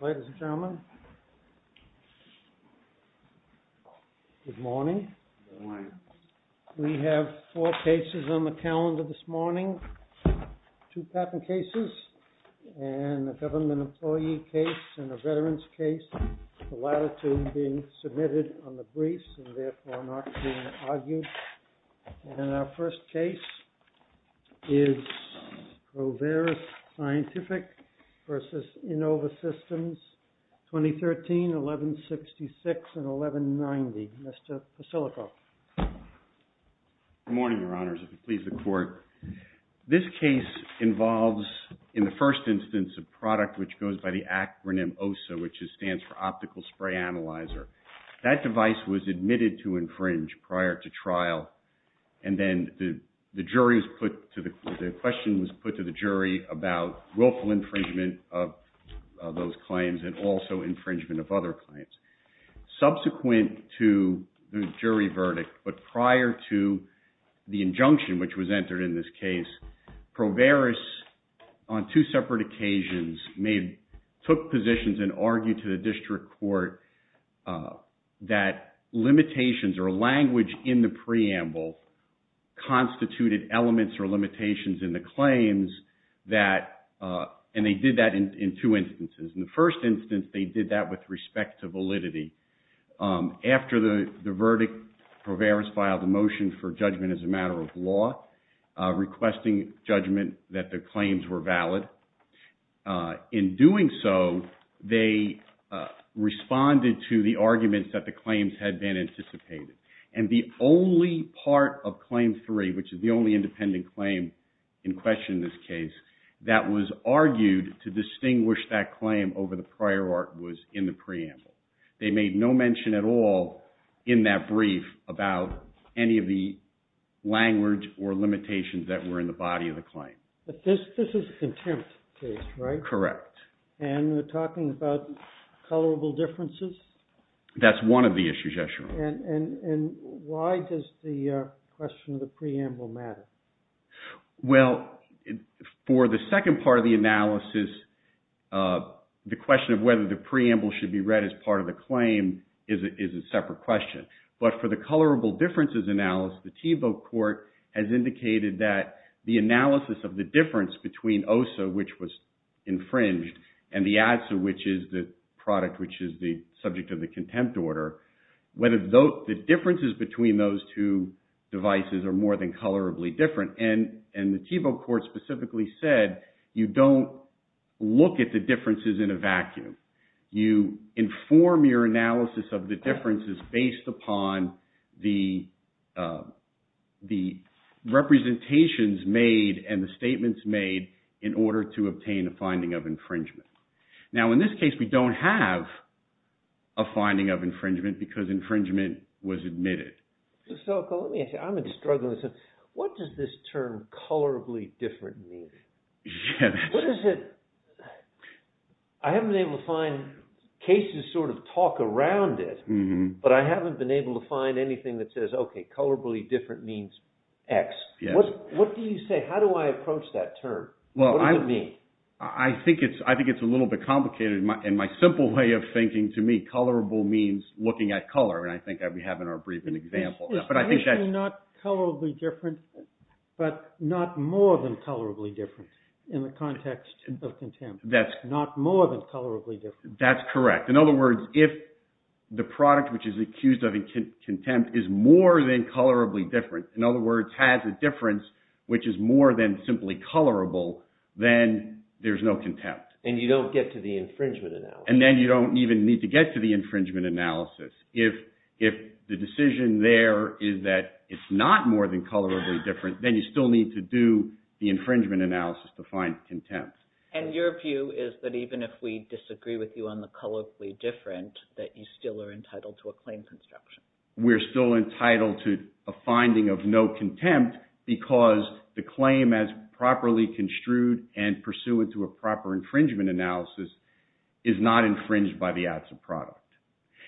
Ladies and gentlemen, good morning. We have four cases on the calendar this morning, two patent cases, and a government employee case and a veteran's case, the latter two being submitted on the briefs and therefore not being argued. And our first case is PROVERIS SCIENTIFIC v. INNOVA SYSTEMS, 2013, 1166 and 1190. Mr. Pasilnikoff. Good morning, Your Honors, if it pleases the Court. This case involves, in the first instance, a product which goes by the acronym OSA, which stands for Optical Spray Analyzer. That device was admitted to infringe prior to trial, and then the question was put to the jury about willful infringement of those claims and also infringement of other claims. Subsequent to the jury verdict, but prior to the injunction, which was entered in this case, PROVERIS, on two separate occasions, took positions and argued to the district court that limitations or language in the preamble constituted elements or limitations in the claims that, and they did that in two instances. In the first instance, they did that with respect to validity. After the verdict, PROVERIS filed a motion for judgment as a matter of law, requesting judgment that the claims were valid. In doing so, they responded to the arguments that the claims had been anticipated, and the only part of Claim 3, which is the only independent claim in question in this case, that was argued to distinguish that claim over the prior art was in the preamble. They made no mention at all in that brief about any of the language or limitations that were in the body of the claim. But this is a contempt case, right? Correct. And we're talking about colorable differences? That's one of the issues, yes, Your Honor. And why does the question of the preamble matter? Well, for the second part of the analysis, the question of whether the preamble should be read as part of the claim is a separate question. But for the colorable differences analysis, the Tebow Court has indicated that the analysis of the difference between OSA, which was infringed, and the ADSA, which is the product, which is the subject of the contempt order, whether the differences between those two devices are more than colorably different. And the Tebow Court specifically said you don't look at the differences in a vacuum. You inform your analysis of the differences based upon the representations made and the statements made in order to obtain a finding of infringement. Now, in this case, we don't have a finding of infringement because infringement was admitted. So, let me ask you, I'm struggling with this. What does this term colorably different mean? What is it? I haven't been able to find cases sort of talk around it, but I haven't been able to find anything that says, okay, colorably different means X. What do you say? How do I approach that term? What does it mean? I think it's a little bit complicated. In my simple way of thinking, to me, colorable means looking at color. It's basically not colorably different, but not more than colorably different in the context of contempt. Not more than colorably different. That's correct. In other words, if the product which is accused of contempt is more than colorably different, in other words, has a difference which is more than simply colorable, then there's no contempt. And you don't get to the infringement analysis. And then you don't even need to get to the infringement analysis. If the decision there is that it's not more than colorably different, then you still need to do the infringement analysis to find contempt. And your view is that even if we disagree with you on the colorably different, that you still are entitled to a claim construction? We're still entitled to a finding of no contempt because the claim, as properly construed and pursuant to a proper infringement analysis, is not infringed by the acts of product.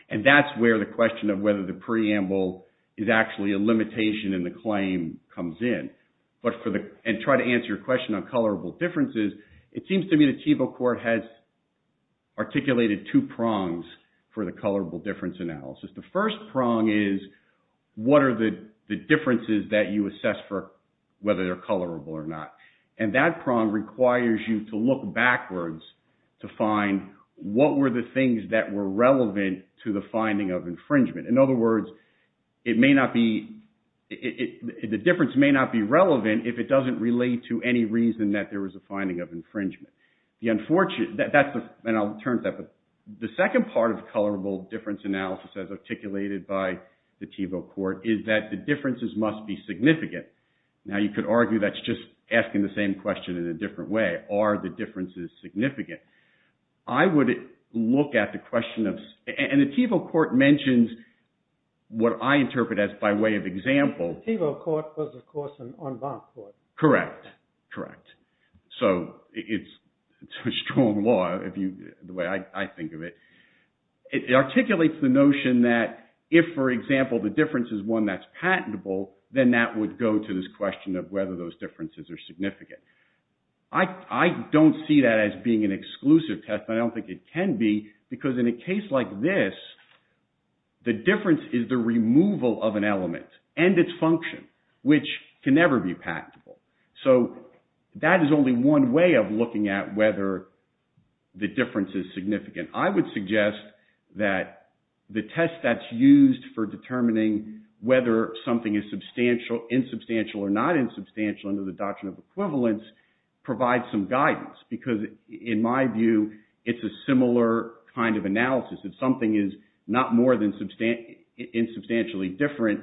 And that's where the question of whether the preamble is actually a limitation in the claim comes in. And try to answer your question on colorable differences, it seems to me the Chievo Court has articulated two prongs for the colorable difference analysis. The first prong is what are the differences that you assess for whether they're colorable or not. And that prong requires you to look backwards to find what were the things that were relevant to the finding of infringement. In other words, it may not be – the difference may not be relevant if it doesn't relate to any reason that there was a finding of infringement. The unfortunate – that's the – and I'll turn to that. But the second part of colorable difference analysis as articulated by the Chievo Court is that the differences must be significant. Now you could argue that's just asking the same question in a different way. Are the differences significant? I would look at the question of – and the Chievo Court mentions what I interpret as by way of example. Chievo Court was, of course, an en banc court. Correct. Correct. So it's a strong law if you – the way I think of it. It articulates the notion that if, for example, the difference is one that's patentable, then that would go to this question of whether those differences are significant. I don't see that as being an exclusive test. I don't think it can be because in a case like this, the difference is the removal of an element and its function, which can never be patentable. So that is only one way of looking at whether the difference is significant. I would suggest that the test that's used for determining whether something is substantial, insubstantial, or not insubstantial under the doctrine of equivalence provides some guidance because, in my view, it's a similar kind of analysis. If something is not more than insubstantially different,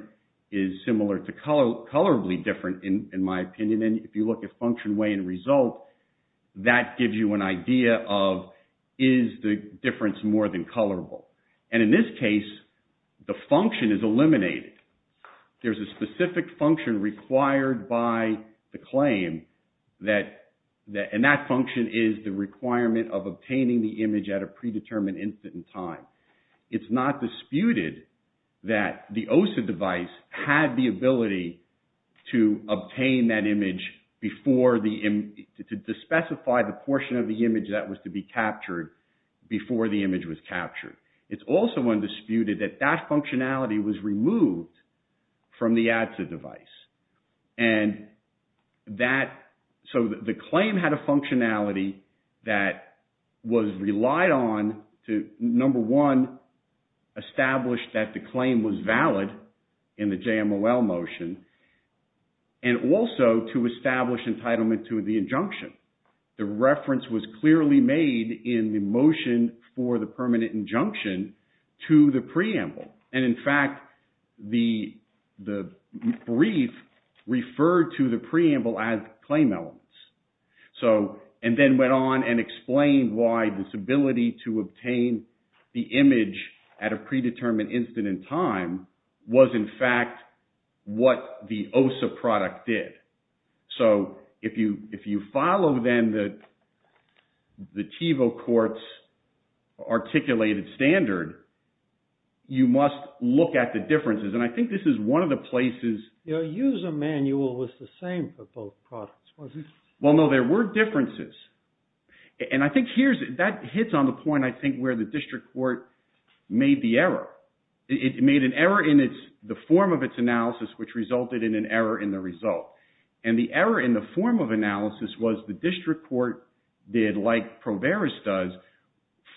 is similar to colorably different, in my opinion, and then if you look at function, way, and result, that gives you an idea of, is the difference more than colorable? And in this case, the function is eliminated. There's a specific function required by the claim that – and that function is the requirement of obtaining the image at a predetermined instant in time. It's not disputed that the OSA device had the ability to obtain that image before the – to specify the portion of the image that was to be captured before the image was captured. It's also undisputed that that functionality was removed from the ADSA device. And that – so the claim had a functionality that was relied on to, number one, establish that the claim was valid in the JMOL motion and also to establish entitlement to the injunction. The reference was clearly made in the motion for the permanent injunction to the preamble. And in fact, the brief referred to the preamble as claim elements. So – and then went on and explained why this ability to obtain the image at a predetermined instant in time was, in fact, what the OSA product did. So if you follow, then, the TiVo court's articulated standard, you must look at the differences. And I think this is one of the places – Your user manual was the same for both products, wasn't it? Well, no, there were differences. And I think here's – that hits on the point, I think, where the district court made the error. It made an error in the form of its analysis, which resulted in an error in the result. And the error in the form of analysis was the district court did, like ProVeris does,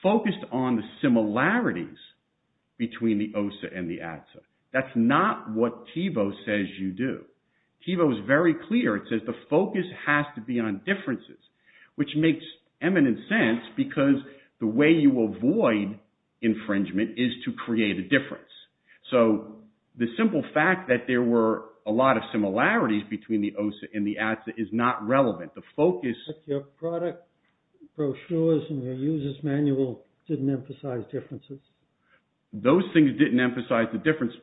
focused on the similarities between the OSA and the ADSA. That's not what TiVo says you do. TiVo is very clear. It says the focus has to be on differences, which makes eminent sense, because the way you avoid infringement is to create a difference. So the simple fact that there were a lot of similarities between the OSA and the ADSA is not relevant. The focus – But your product brochures and your user's manual didn't emphasize differences? Those things didn't emphasize the difference.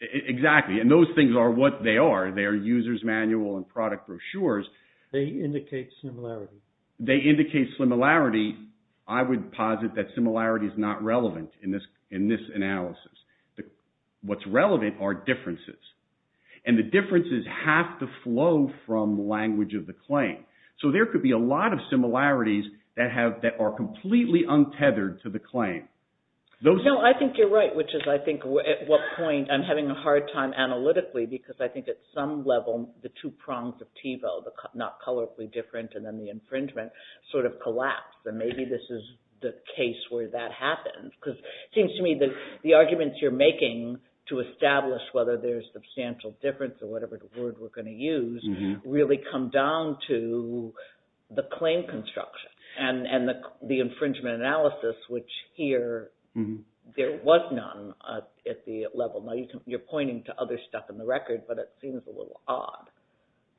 Exactly. And those things are what they are. They are user's manual and product brochures. They indicate similarity. They indicate similarity. I would posit that similarity is not relevant in this analysis. What's relevant are differences. And the differences have to flow from language of the claim. So there could be a lot of similarities that are completely untethered to the claim. No, I think you're right, which is, I think, at what point I'm having a hard time analytically, because I think at some level the two prongs of TiVo – the not colorfully different and then the infringement – sort of collapse. And maybe this is the case where that happens. Because it seems to me that the arguments you're making to establish whether there's substantial difference or whatever word we're going to use really come down to the claim construction and the infringement analysis, which here there was none at the level. Now you're pointing to other stuff in the record, but it seems a little odd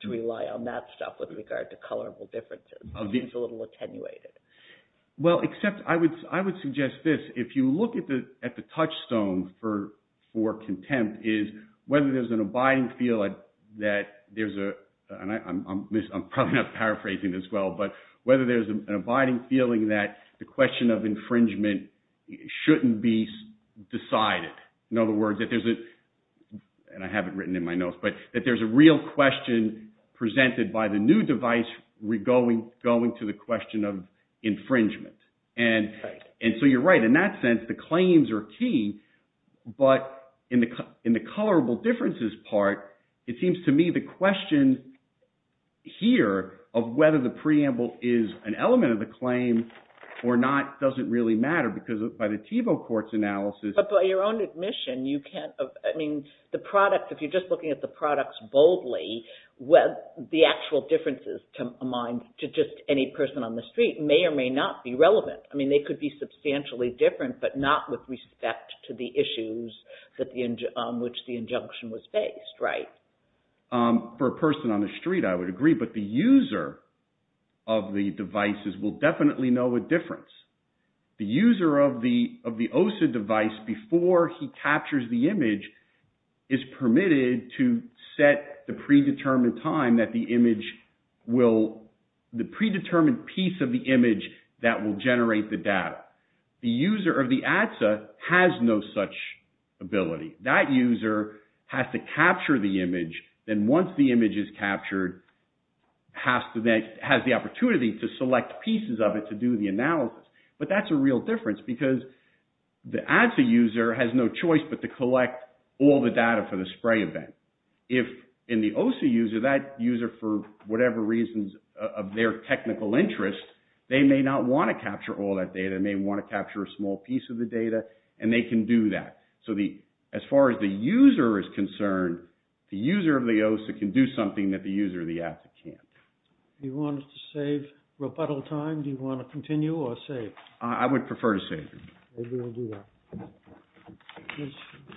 to rely on that stuff with regard to colorful differences. It seems a little attenuated. Well, except I would suggest this. If you look at the touchstone for contempt is whether there's an abiding feeling that there's a – and I'm probably not paraphrasing this well – but whether there's an abiding feeling that the question of infringement shouldn't be decided. In other words, that there's a – and I have it written in my notes – but that there's a real question presented by the new device going to the question of infringement. And so you're right. In that sense, the claims are key, but in the colorable differences part, it seems to me the question here of whether the preamble is an element of the claim or not doesn't really matter. Because by the TiVo court's analysis – But by your own admission, you can't – I mean the product – if you're just looking at the products boldly, the actual differences to just any person on the street may or may not be relevant. I mean they could be substantially different, but not with respect to the issues on which the injunction was based, right? For a person on the street, I would agree. But the user of the devices will definitely know a difference. The user of the OSA device, before he captures the image, is permitted to set the predetermined time that the image will – the predetermined piece of the image that will generate the data. The user of the ADSA has no such ability. That user has to capture the image, and once the image is captured has the opportunity to select pieces of it to do the analysis. But that's a real difference because the ADSA user has no choice but to collect all the data for the spray event. If in the OSA user, that user for whatever reasons of their technical interest, they may not want to capture all that data. They may want to capture a small piece of the data, and they can do that. So as far as the user is concerned, the user of the OSA can do something that the user of the ADSA can't. Do you want to save rebuttal time? Do you want to continue or save? I would prefer to save. Maybe we'll do that. Ms.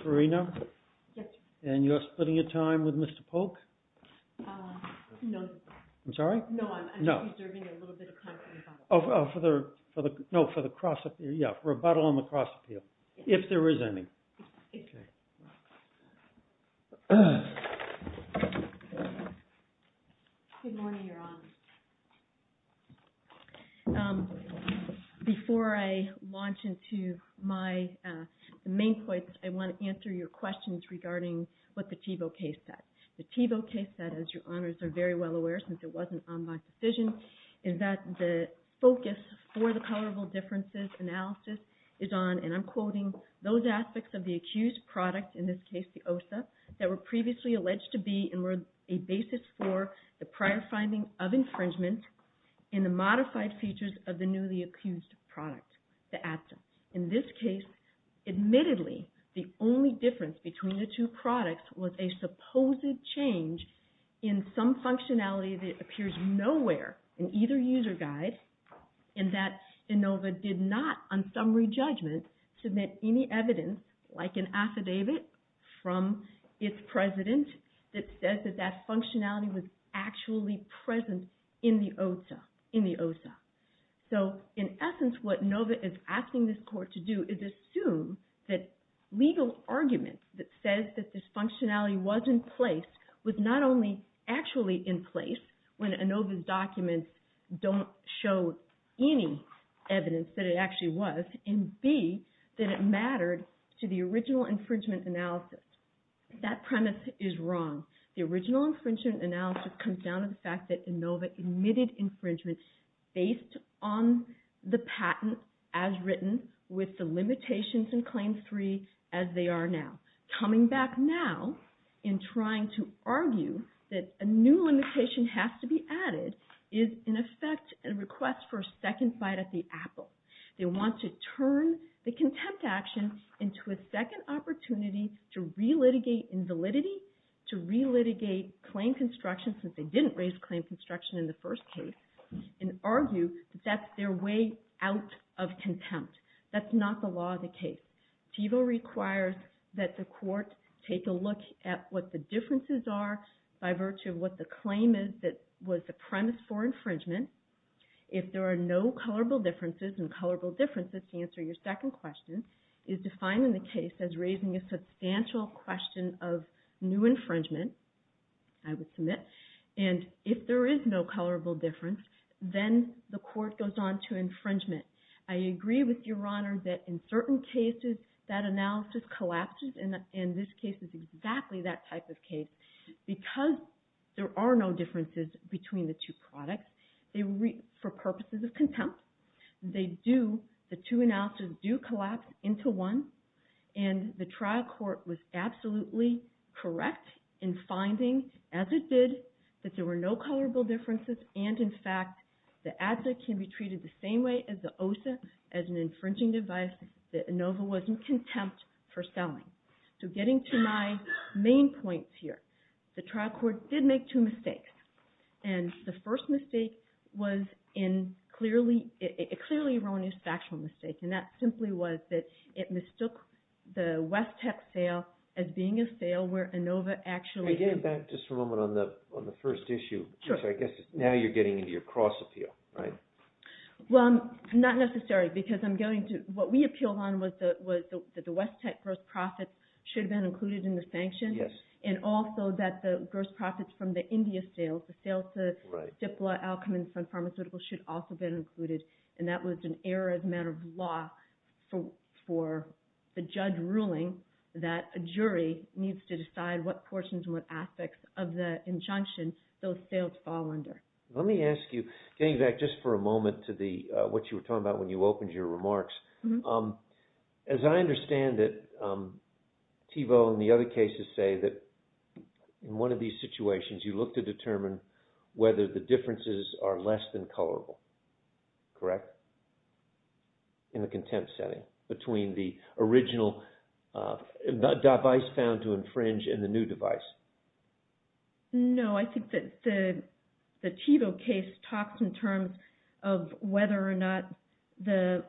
Farina? Yes. And you're splitting your time with Mr. Polk? No. I'm sorry? No, I'm just reserving a little bit of time for rebuttal. Oh, for the – no, for the cross-appeal. Yeah, rebuttal on the cross-appeal, if there is any. Okay. Ms. Farina, you're on. Before I launch into my main points, I want to answer your questions regarding what the Tevo case said. The Tevo case said, as your honors are very well aware, since it wasn't on my decision, is that the focus for the tolerable differences analysis is on, and I'm quoting, those aspects of the accused product, in this case the OSA, that were previously alleged to be a basis for the prior finding of infringement in the modified features of the newly accused product, the ATSM. In this case, admittedly, the only difference between the two products was a supposed change in some functionality that appears nowhere in either user guide, and that Inova did not, on summary judgment, submit any evidence, like an affidavit from its president, that says that that functionality was actually present in the OSA. So, in essence, what Inova is asking this court to do is assume that legal argument that says that this functionality was in place was not only actually in place, when Inova's documents don't show any evidence that it actually was, and B, that it mattered to the original infringement analysis. That premise is wrong. The original infringement analysis comes down to the fact that Inova admitted infringement based on the patent, as written, with the limitations in Claim 3, as they are now. Coming back now in trying to argue that a new limitation has to be added is, in effect, a request for a second bite at the apple. They want to turn the contempt action into a second opportunity to re-litigate invalidity, to re-litigate claim construction, since they didn't raise claim construction in the first case, and argue that that's their way out of contempt. That's not the law of the case. TIVO requires that the court take a look at what the differences are by virtue of what the claim is that was the premise for infringement. If there are no colorable differences, and colorable differences, to answer your second question, is defining the case as raising a substantial question of new infringement, I would submit. And if there is no colorable difference, then the court goes on to infringement. I agree with Your Honor that in certain cases that analysis collapses, and this case is exactly that type of case, because there are no differences between the two products, for purposes of contempt, they do, the two analysis do collapse into one, and the trial court was absolutely correct in finding, as it did, that there were no colorable differences, and in fact the adze can be treated the same way as the osa, as an infringing device that Inova was in contempt for selling. So getting to my main points here, the trial court did make two mistakes. And the first mistake was a clearly erroneous factual mistake, and that simply was that it mistook the West Tech sale as being a sale where Inova actually... Can I get it back just for a moment on the first issue? Sure. Because I guess now you're getting into your cross appeal, right? Well, not necessarily, because what we appealed on was that the West Tech gross profits should have been included in the sanction, and also that the gross profits from the India sales, the sales to Stipla, Alcman, Sun Pharmaceuticals, should also have been included, and that was an error as a matter of law for the judge ruling that a jury needs to decide what portions and what aspects of the injunction those sales fall under. Let me ask you, getting back just for a moment to what you were talking about when you opened your remarks, as I understand it, Thiebaud and the other cases say that in one of these situations you look to determine whether the differences are less than colorable. Correct? In the contempt setting between the original device found to infringe and the new device. No, I think that the Thiebaud case talks in terms of whether or not the...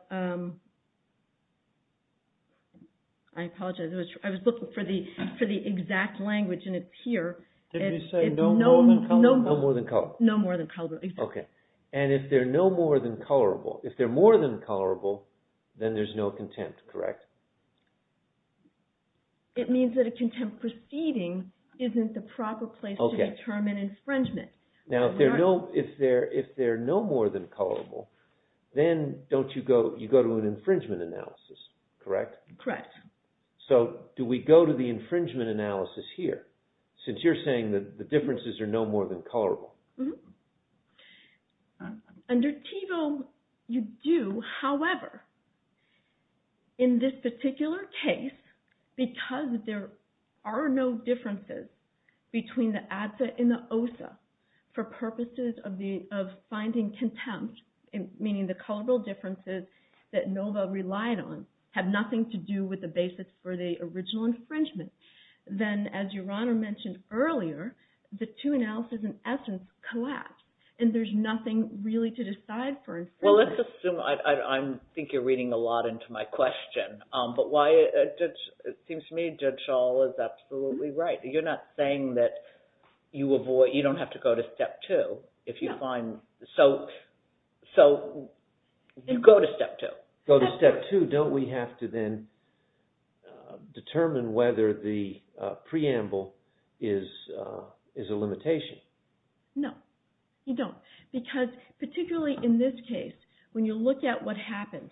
I apologize, I was looking for the exact language, and it's here. Did you say no more than colorable? No more than colorable. No more than colorable, exactly. Okay, and if they're no more than colorable, if they're more than colorable, then there's no contempt, correct? It means that a contempt proceeding isn't the proper place to determine infringement. Now, if they're no more than colorable, then you go to an infringement analysis, correct? Correct. So, do we go to the infringement analysis here, since you're saying that the differences are no more than colorable? Mm-hmm. Under Thiebaud, you do. However, in this particular case, because there are no differences between the ADSA and the OSA for purposes of finding contempt, meaning the colorable differences that Nova relied on have nothing to do with the basis for the original infringement, then, as Your Honor mentioned earlier, the two analyses, in essence, collapse, and there's nothing really to decide for infringement. Well, let's assume... I think you're reading a lot into my question, but it seems to me Judge Schall is absolutely right. You're not saying that you don't have to go to Step 2 if you find... So, you go to Step 2. Go to Step 2. Don't we have to then determine whether the preamble is a limitation? No, you don't. Because, particularly in this case, when you look at what happened,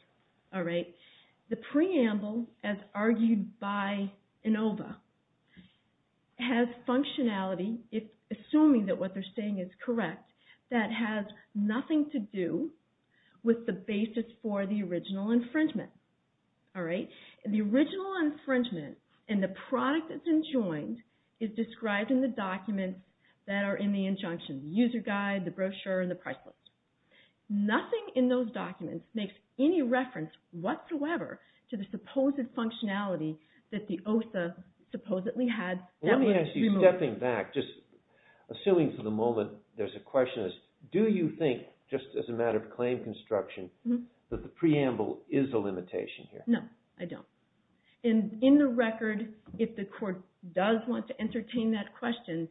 the preamble, as argued by Inova, has functionality, assuming that what they're saying is correct, that has nothing to do with the basis for the original infringement. The original infringement and the product that's enjoined is described in the documents that are in the injunction, the user guide, the brochure, and the price list. Nothing in those documents makes any reference whatsoever to the supposed functionality that the OSA supposedly had. Let me ask you, stepping back, just assuming for the moment there's a question, do you think, just as a matter of claim construction, that the preamble is a limitation here? No, I don't. In the record, if the court does want to entertain that question,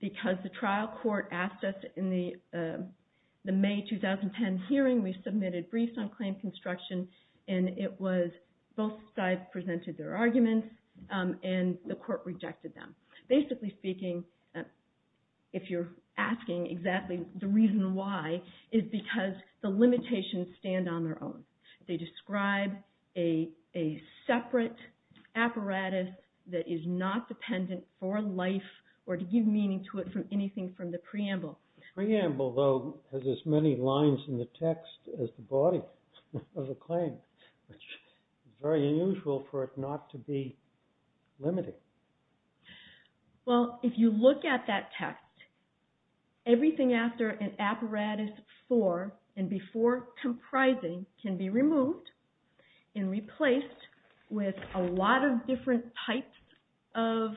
because the trial court asked us in the May 2010 hearing, we submitted briefs on claim construction, and both sides presented their arguments, and the court rejected them. Basically speaking, if you're asking exactly the reason why, it's because the limitations stand on their own. They describe a separate apparatus that is not dependent for life or to give meaning to it from anything from the preamble. The preamble, though, has as many lines in the text as the body of the claim, which is very unusual for it not to be limited. Well, if you look at that text, everything after an apparatus for and before comprising can be removed and replaced with a lot of different types of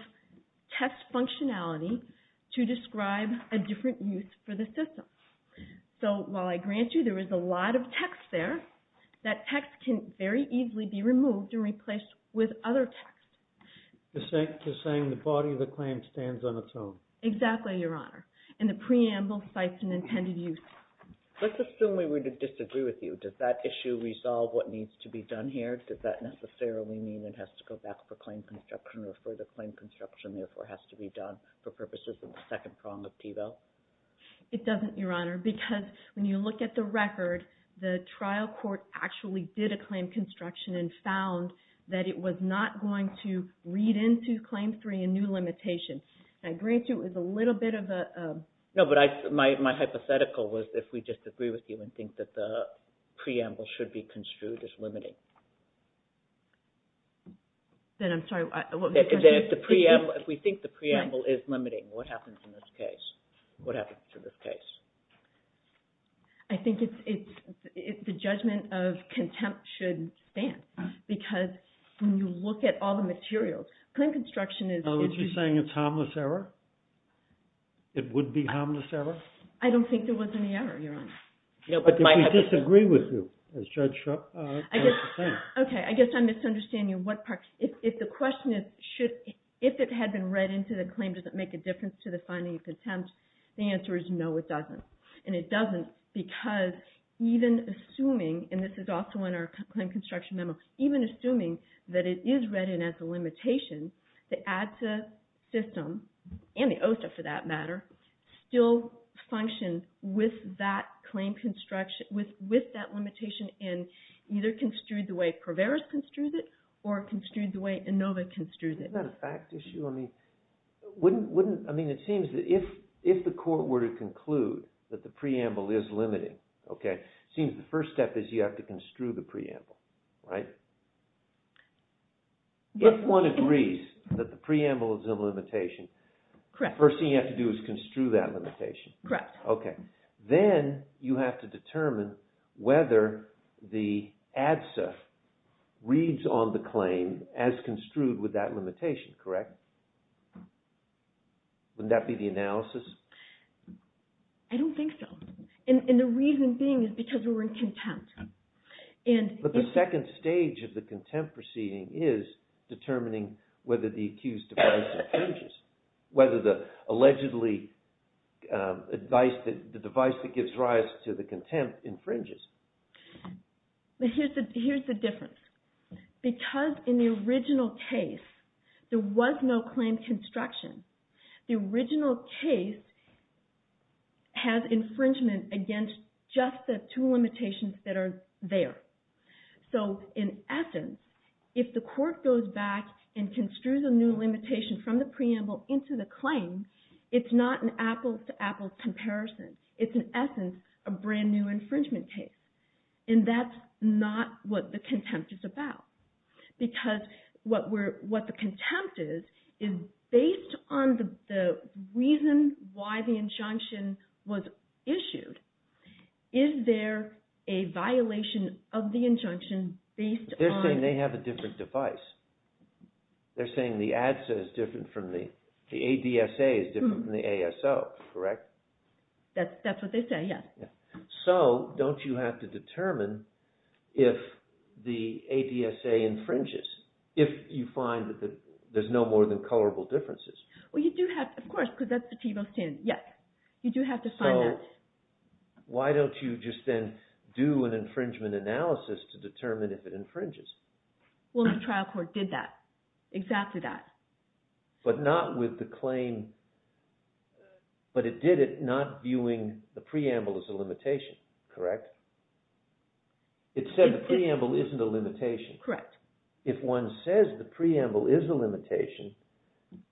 test functionality to describe a different use for the system. So while I grant you there is a lot of text there, that text can very easily be removed and replaced with other text. Just saying the body of the claim stands on its own. Exactly, Your Honor, and the preamble cites an intended use. Let's assume we were to disagree with you. Does that issue resolve what needs to be done here? Does that necessarily mean it has to go back for claim construction or further claim construction therefore has to be done for purposes of the second prong of TIVO? It doesn't, Your Honor, because when you look at the record, the trial court actually did a claim construction and found that it was not going to read into Claim 3 a new limitation. I grant you it was a little bit of a... No, but my hypothetical was if we disagree with you and think that the preamble should be construed as limiting. Then I'm sorry... Then if we think the preamble is limiting, what happens in this case? What happens to this case? I think the judgment of contempt should stand because when you look at all the materials, claim construction is... Are you saying it's harmless error? It would be harmless error? I don't think there was any error, Your Honor. But if we disagree with you, as Judge Shrupp was saying. Okay, I guess I misunderstand you. If the question is if it had been read into the claim, does it make a difference to the finding of contempt? The answer is no, it doesn't. And it doesn't because even assuming, and this is also in our claim construction memo, even assuming that it is read in as a limitation, the ADSA system, and the OSA for that matter, still functions with that limitation and either construed the way Proveros construes it or construed the way Inova construes it. Isn't that a fact issue? I mean, it seems that if the court were to conclude that the preamble is limiting, it seems the first step is you have to construe the preamble. Right? If one agrees that the preamble is a limitation, the first thing you have to do is construe that limitation. Correct. Then you have to determine whether the ADSA reads on the claim as construed with that limitation, correct? Wouldn't that be the analysis? I don't think so. And the reason being is because we're in contempt. But the second stage of the contempt proceeding is determining whether the accused device infringes, whether the allegedly device that gives rise to the contempt infringes. Here's the difference. Because in the original case, there was no claim construction, the original case has infringement against just the two limitations that are there. So in essence, if the court goes back and construes a new limitation from the preamble into the claim, it's not an apples to apples comparison. It's in essence a brand new infringement case. And that's not what the contempt is about. Because what the contempt is, is based on the reason why the injunction was issued, is there a violation of the injunction based on... They're saying they have a different device. They're saying the ADSA is different from the... The ADSA is different from the ASO, correct? That's what they say, yes. So don't you have to determine if the ADSA infringes? If you find that there's no more than colorable differences. Well, you do have to, of course, because that's the TBO standard. Yes, you do have to find that. So why don't you just then do an infringement analysis to determine if it infringes? Well, the trial court did that, exactly that. But not with the claim... But it did it not viewing the preamble as a limitation, correct? It said the preamble isn't a limitation. Correct. If one says the preamble is a limitation,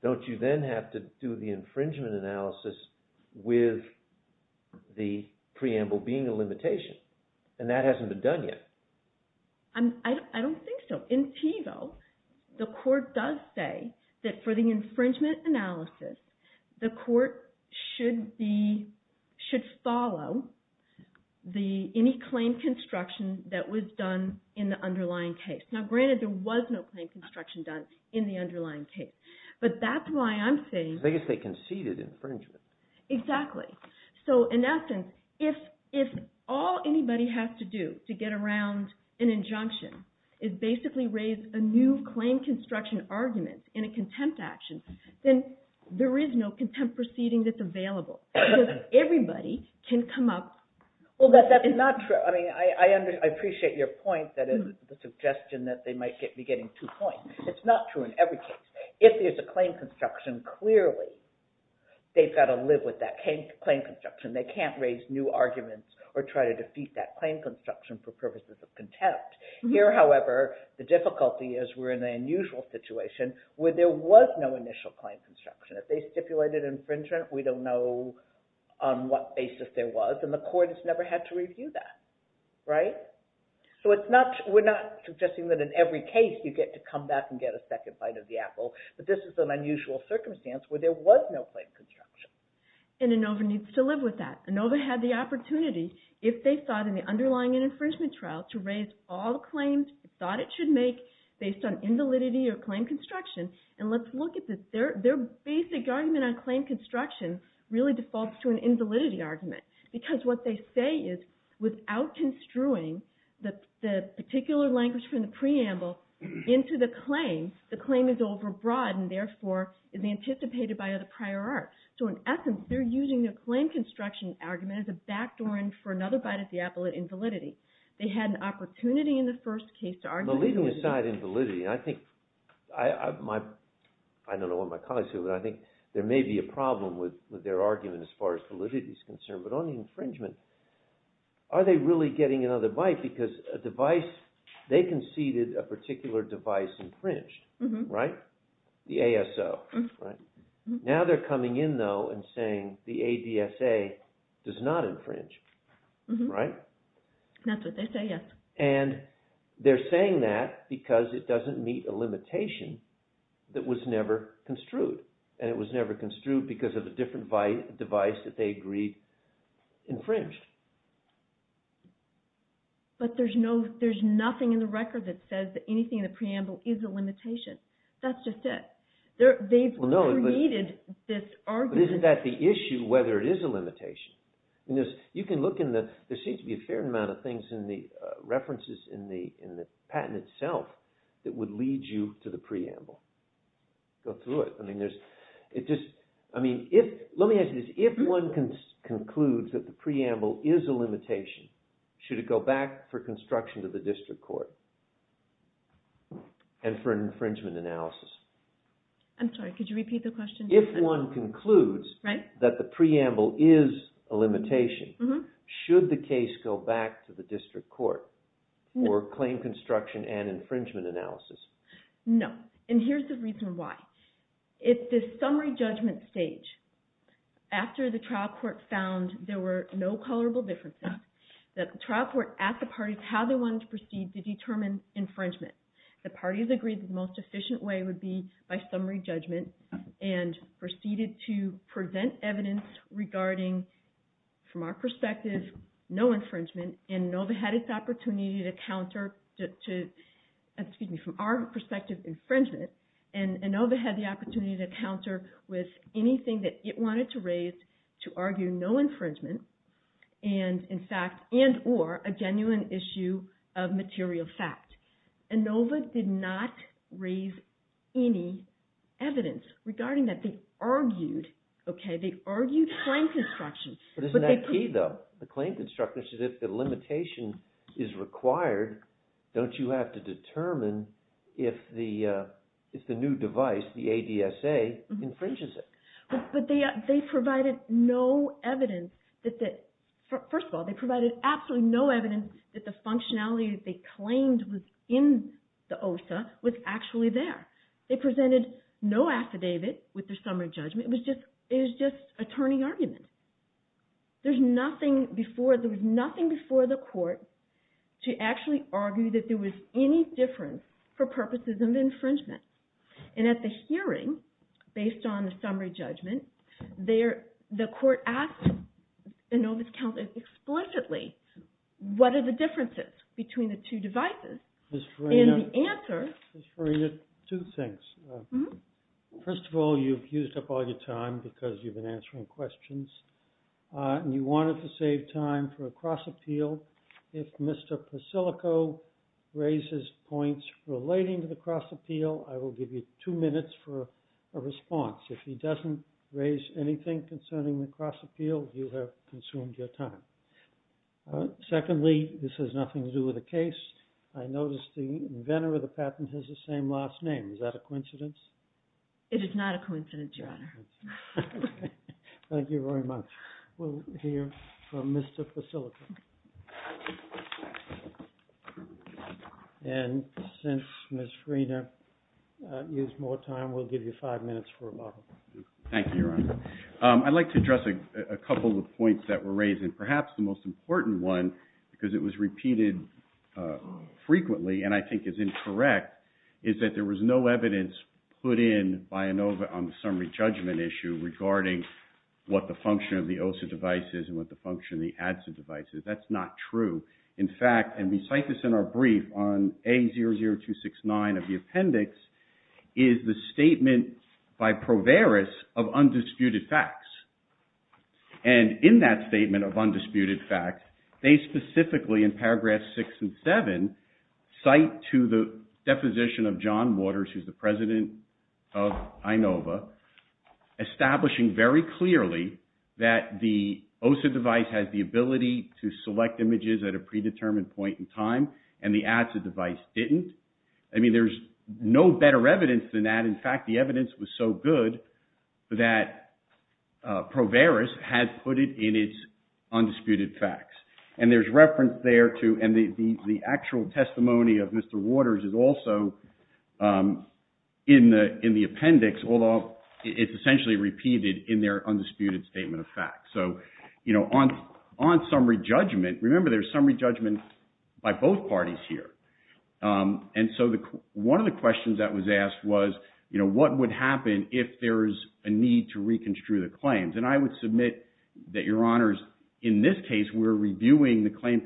don't you then have to do the infringement analysis with the preamble being a limitation? And that hasn't been done yet. I don't think so. In TBO, the court does say that for the infringement analysis, the court should follow any claim construction that was done in the underlying case. Now, granted, there was no claim construction done in the underlying case. But that's why I'm saying... I guess they conceded infringement. Exactly. So, in essence, if all anybody has to do to get around an injunction is basically raise a new claim construction argument in a contempt action, then there is no contempt proceeding that's available. Because everybody can come up... Well, that's not true. I mean, I appreciate your point that is the suggestion that they might be getting two points. It's not true in every case. If there's a claim construction, clearly they've got to live with that claim construction. They can't raise new arguments or try to defeat that claim construction for purposes of contempt. Here, however, the difficulty is we're in an unusual situation where there was no initial claim construction. If they stipulated infringement, we don't know on what basis there was. And the court has never had to review that. Right? So we're not suggesting that in every case you get to come back and get a second bite of the apple. But this is an unusual circumstance where there was no claim construction. And ANOVA needs to live with that. ANOVA had the opportunity, if they thought in the underlying infringement trial, to raise all the claims it thought it should make based on invalidity or claim construction. And let's look at this. Their basic argument on claim construction really defaults to an invalidity argument. Because what they say is, without construing the particular language from the preamble into the claim, the claim is overbroad and therefore is anticipated by the prior art. So in essence, they're using the claim construction argument as a backdoor for another bite of the apple at invalidity. They had an opportunity in the first case to argue... Well, leaving aside invalidity, I think... I don't know what my colleagues think, but I think there may be a problem with their argument as far as validity is concerned. But on the infringement, are they really getting another bite? Because a device... They conceded a particular device infringed, right? The ASO, right? Now they're coming in, though, and saying the ADSA does not infringe, right? That's what they say, yes. And they're saying that because it doesn't meet a limitation that was never construed. And it was never construed because of a different device that they agreed to be infringed. But there's nothing in the record that says that anything in the preamble is a limitation. That's just it. They've created this argument... But isn't that the issue, whether it is a limitation? You can look in the... There seems to be a fair amount of things in the references in the patent itself that would lead you to the preamble. Go through it. I mean, there's... It just... I mean, if... If one concludes that the preamble is a limitation, should it go back for construction to the district court and for an infringement analysis? I'm sorry, could you repeat the question? If one concludes that the preamble is a limitation, should the case go back to the district court or claim construction and infringement analysis? No. And here's the reason why. At the summary judgment stage, after the trial court found there were no colorable differences, the trial court asked the parties how they wanted to proceed to determine infringement. The parties agreed the most efficient way would be by summary judgment and proceeded to present evidence regarding, from our perspective, no infringement, and ANOVA had its opportunity to counter... Excuse me, from our perspective, infringement, and ANOVA had the opportunity to counter with anything that it wanted to raise to argue no infringement and, in fact, and or, a genuine issue of material fact. ANOVA did not raise any evidence regarding that. They argued, okay, they argued claim construction. But isn't that key, though? The claim construction, if the limitation is required, don't you have to determine if the new device, the ADSA, infringes it? But they provided no evidence that... First of all, they provided absolutely no evidence that the functionality that they claimed was in the OSA was actually there. They presented no affidavit with their summary judgment. It was just attorney argument. There was nothing before the court to actually argue that there was any difference for purposes of infringement. And at the hearing, based on the summary judgment, the court asked ANOVA's counsel explicitly, what are the differences between the two devices? And the answer... Ms. Farina, two things. First of all, you've used up all your time because you've been answering questions. And you wanted to save time for a cross-appeal. If Mr. Pasilico raises points relating to the cross-appeal, I will give you two minutes for a response. If he doesn't raise anything concerning the cross-appeal, you have consumed your time. Secondly, this has nothing to do with the case. I noticed the inventor of the patent has the same last name. Is that a coincidence? It is not a coincidence, Your Honor. Thank you very much. We'll hear from Mr. Pasilico. And since Ms. Farina used more time, we'll give you five minutes for a model. Thank you, Your Honor. I'd like to address a couple of points that were raised, and perhaps the most important one, because it was repeated frequently and I think is incorrect, is that there was no evidence put in by ANOVA on the summary judgment issue regarding what the function of the OSA device is and what the function of the ADSA device is. That's not true. In fact, and we cite this in our brief on A00269 of the appendix, is the statement by Proveris of undisputed facts. And in that statement of undisputed facts, they specifically, in paragraphs six and seven, cite to the deposition of John Waters, who's the president of ANOVA, establishing very clearly that the OSA device has the ability to select images at a predetermined point in time, and the ADSA device didn't. I mean, there's no better evidence than that. In fact, the evidence was so good that Proveris has put it in its undisputed facts. And there's reference there to, and the actual testimony of Mr. Waters is also in the appendix, although it's essentially repeated in their undisputed statement of facts. So, you know, on summary judgment, remember there's summary judgment by both parties here. And so one of the questions that was asked was, you know, what would happen if there's a need to reconstrue the claims? And I would submit that, Your Honors, in this case, we're reviewing the claim,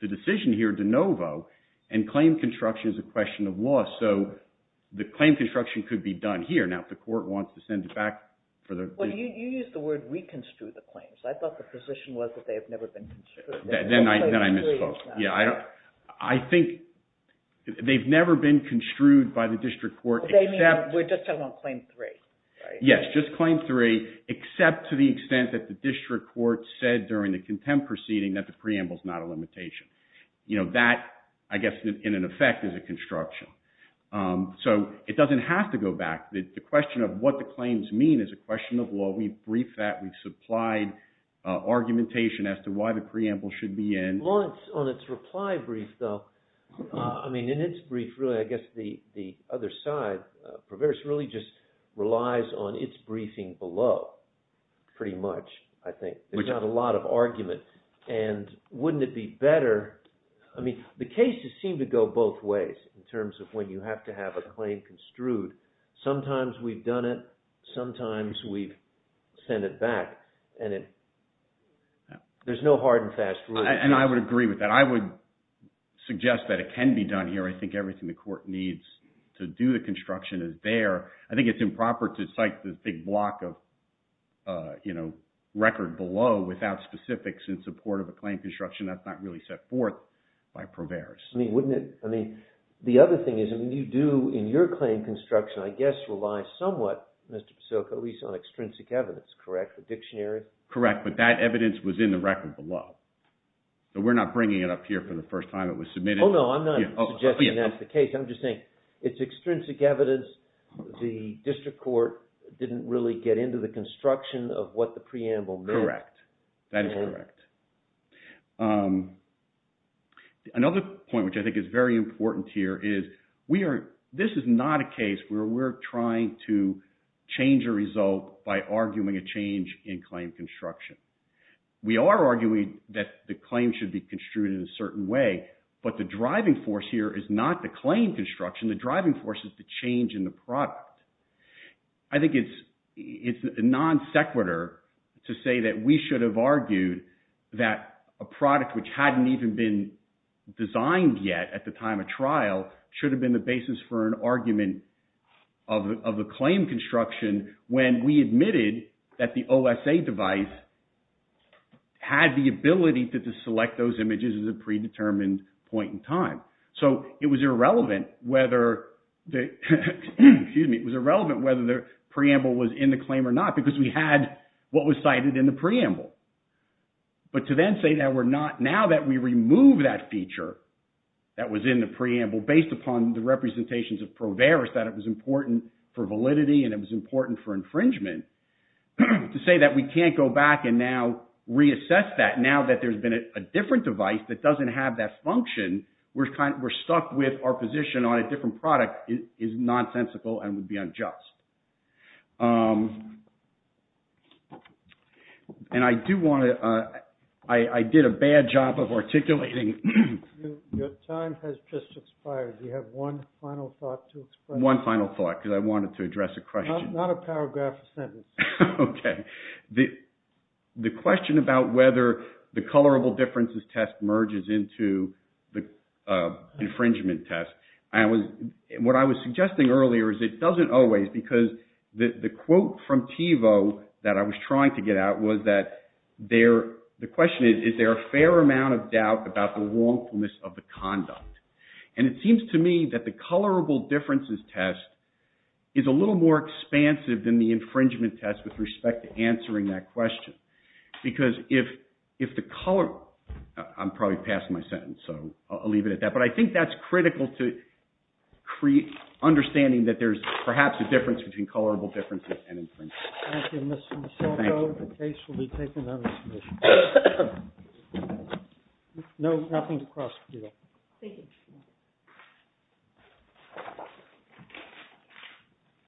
the decision here de novo, and claim construction is a question of law. So the claim construction could be done here. Now, if the court wants to send it back. Well, you used the word reconstrue the claims. I thought the position was that they have never been construed. Then I misspoke. Yeah, I think they've never been construed by the district court. We're just talking about claim three. Yes, just claim three, except to the extent that the district court said during the contempt proceeding that the preamble is not a limitation. You know, that, I guess, in effect, is a construction. So it doesn't have to go back. The question of what the claims mean is a question of law. We've briefed that. We've supplied argumentation as to why the preamble should be in. Lawrence, on its reply brief, though, I mean, in its brief, really, I guess the other side, Proveris really just relies on its briefing below, pretty much, I think. There's not a lot of argument. And wouldn't it be better, I mean, the cases seem to go both ways in terms of when you have to have a claim construed. Sometimes we've done it. Sometimes we've sent it back. And it, there's no hard and fast rule. And I would agree with that. I would suggest that it can be done here. I think everything the court needs to do the construction is there. I think it's improper to cite this big block of, you know, record below without specifics in support of a claim construction. That's not really set forth by Proveris. I mean, wouldn't it, I mean, the other thing is, I mean, you do in your claim construction, I guess, rely somewhat, Mr. Pasilko, at least on extrinsic evidence, correct? The dictionary? Correct, but that evidence was in the record below. So we're not bringing it up here for the first time it was submitted. Oh, no, I'm not suggesting that's the case. I'm just saying it's extrinsic evidence. The district court didn't really get into the construction of what the preamble meant. Correct. That is correct. Another point which I think is very important here is, we are, this is not a case where we're trying to change a result by arguing a change in claim construction. We are arguing that the claim should be construed in a certain way, but the driving force here is not the claim construction. The driving force is the change in the product. I think it's non sequitur to say that we should have argued that a product which hadn't even been designed yet at the time of trial should have been the basis for an argument of a claim construction when we admitted that the OSA device had the ability to select those images at a predetermined point in time. So it was irrelevant whether the, excuse me, it was irrelevant whether the preamble was in the claim or not because we had what was cited in the preamble. But to then say that we're not, now that we remove that feature that was in the preamble based upon the representations of Proveris that it was important for validity and it was important for infringement, to say that we can't go back and now reassess that, now that there's been a different device that doesn't have that function, we're stuck with our position on a different product is nonsensical and would be unjust. And I do want to, I did a bad job of articulating. Your time has just expired. Do you have one final thought to express? One final thought because I wanted to address a question. Not a paragraph, a sentence. Okay. The question about whether the colorable differences test merges into the infringement test, I was, what I was suggesting earlier is it doesn't always because the quote from Thievaud that I was trying to get at was that there, the question is, is there a fair amount of doubt about the wrongfulness of the conduct? And it seems to me that the colorable differences test is a little more expansive than the infringement test with respect to answering that question because if the color, I'm probably passing my sentence so I'll leave it at that, but I think that's critical to understanding that there's perhaps a difference between colorable differences and infringement. Thank you, Mr. Michelco. The case will be taken under submission. No, nothing to cross. Thank you.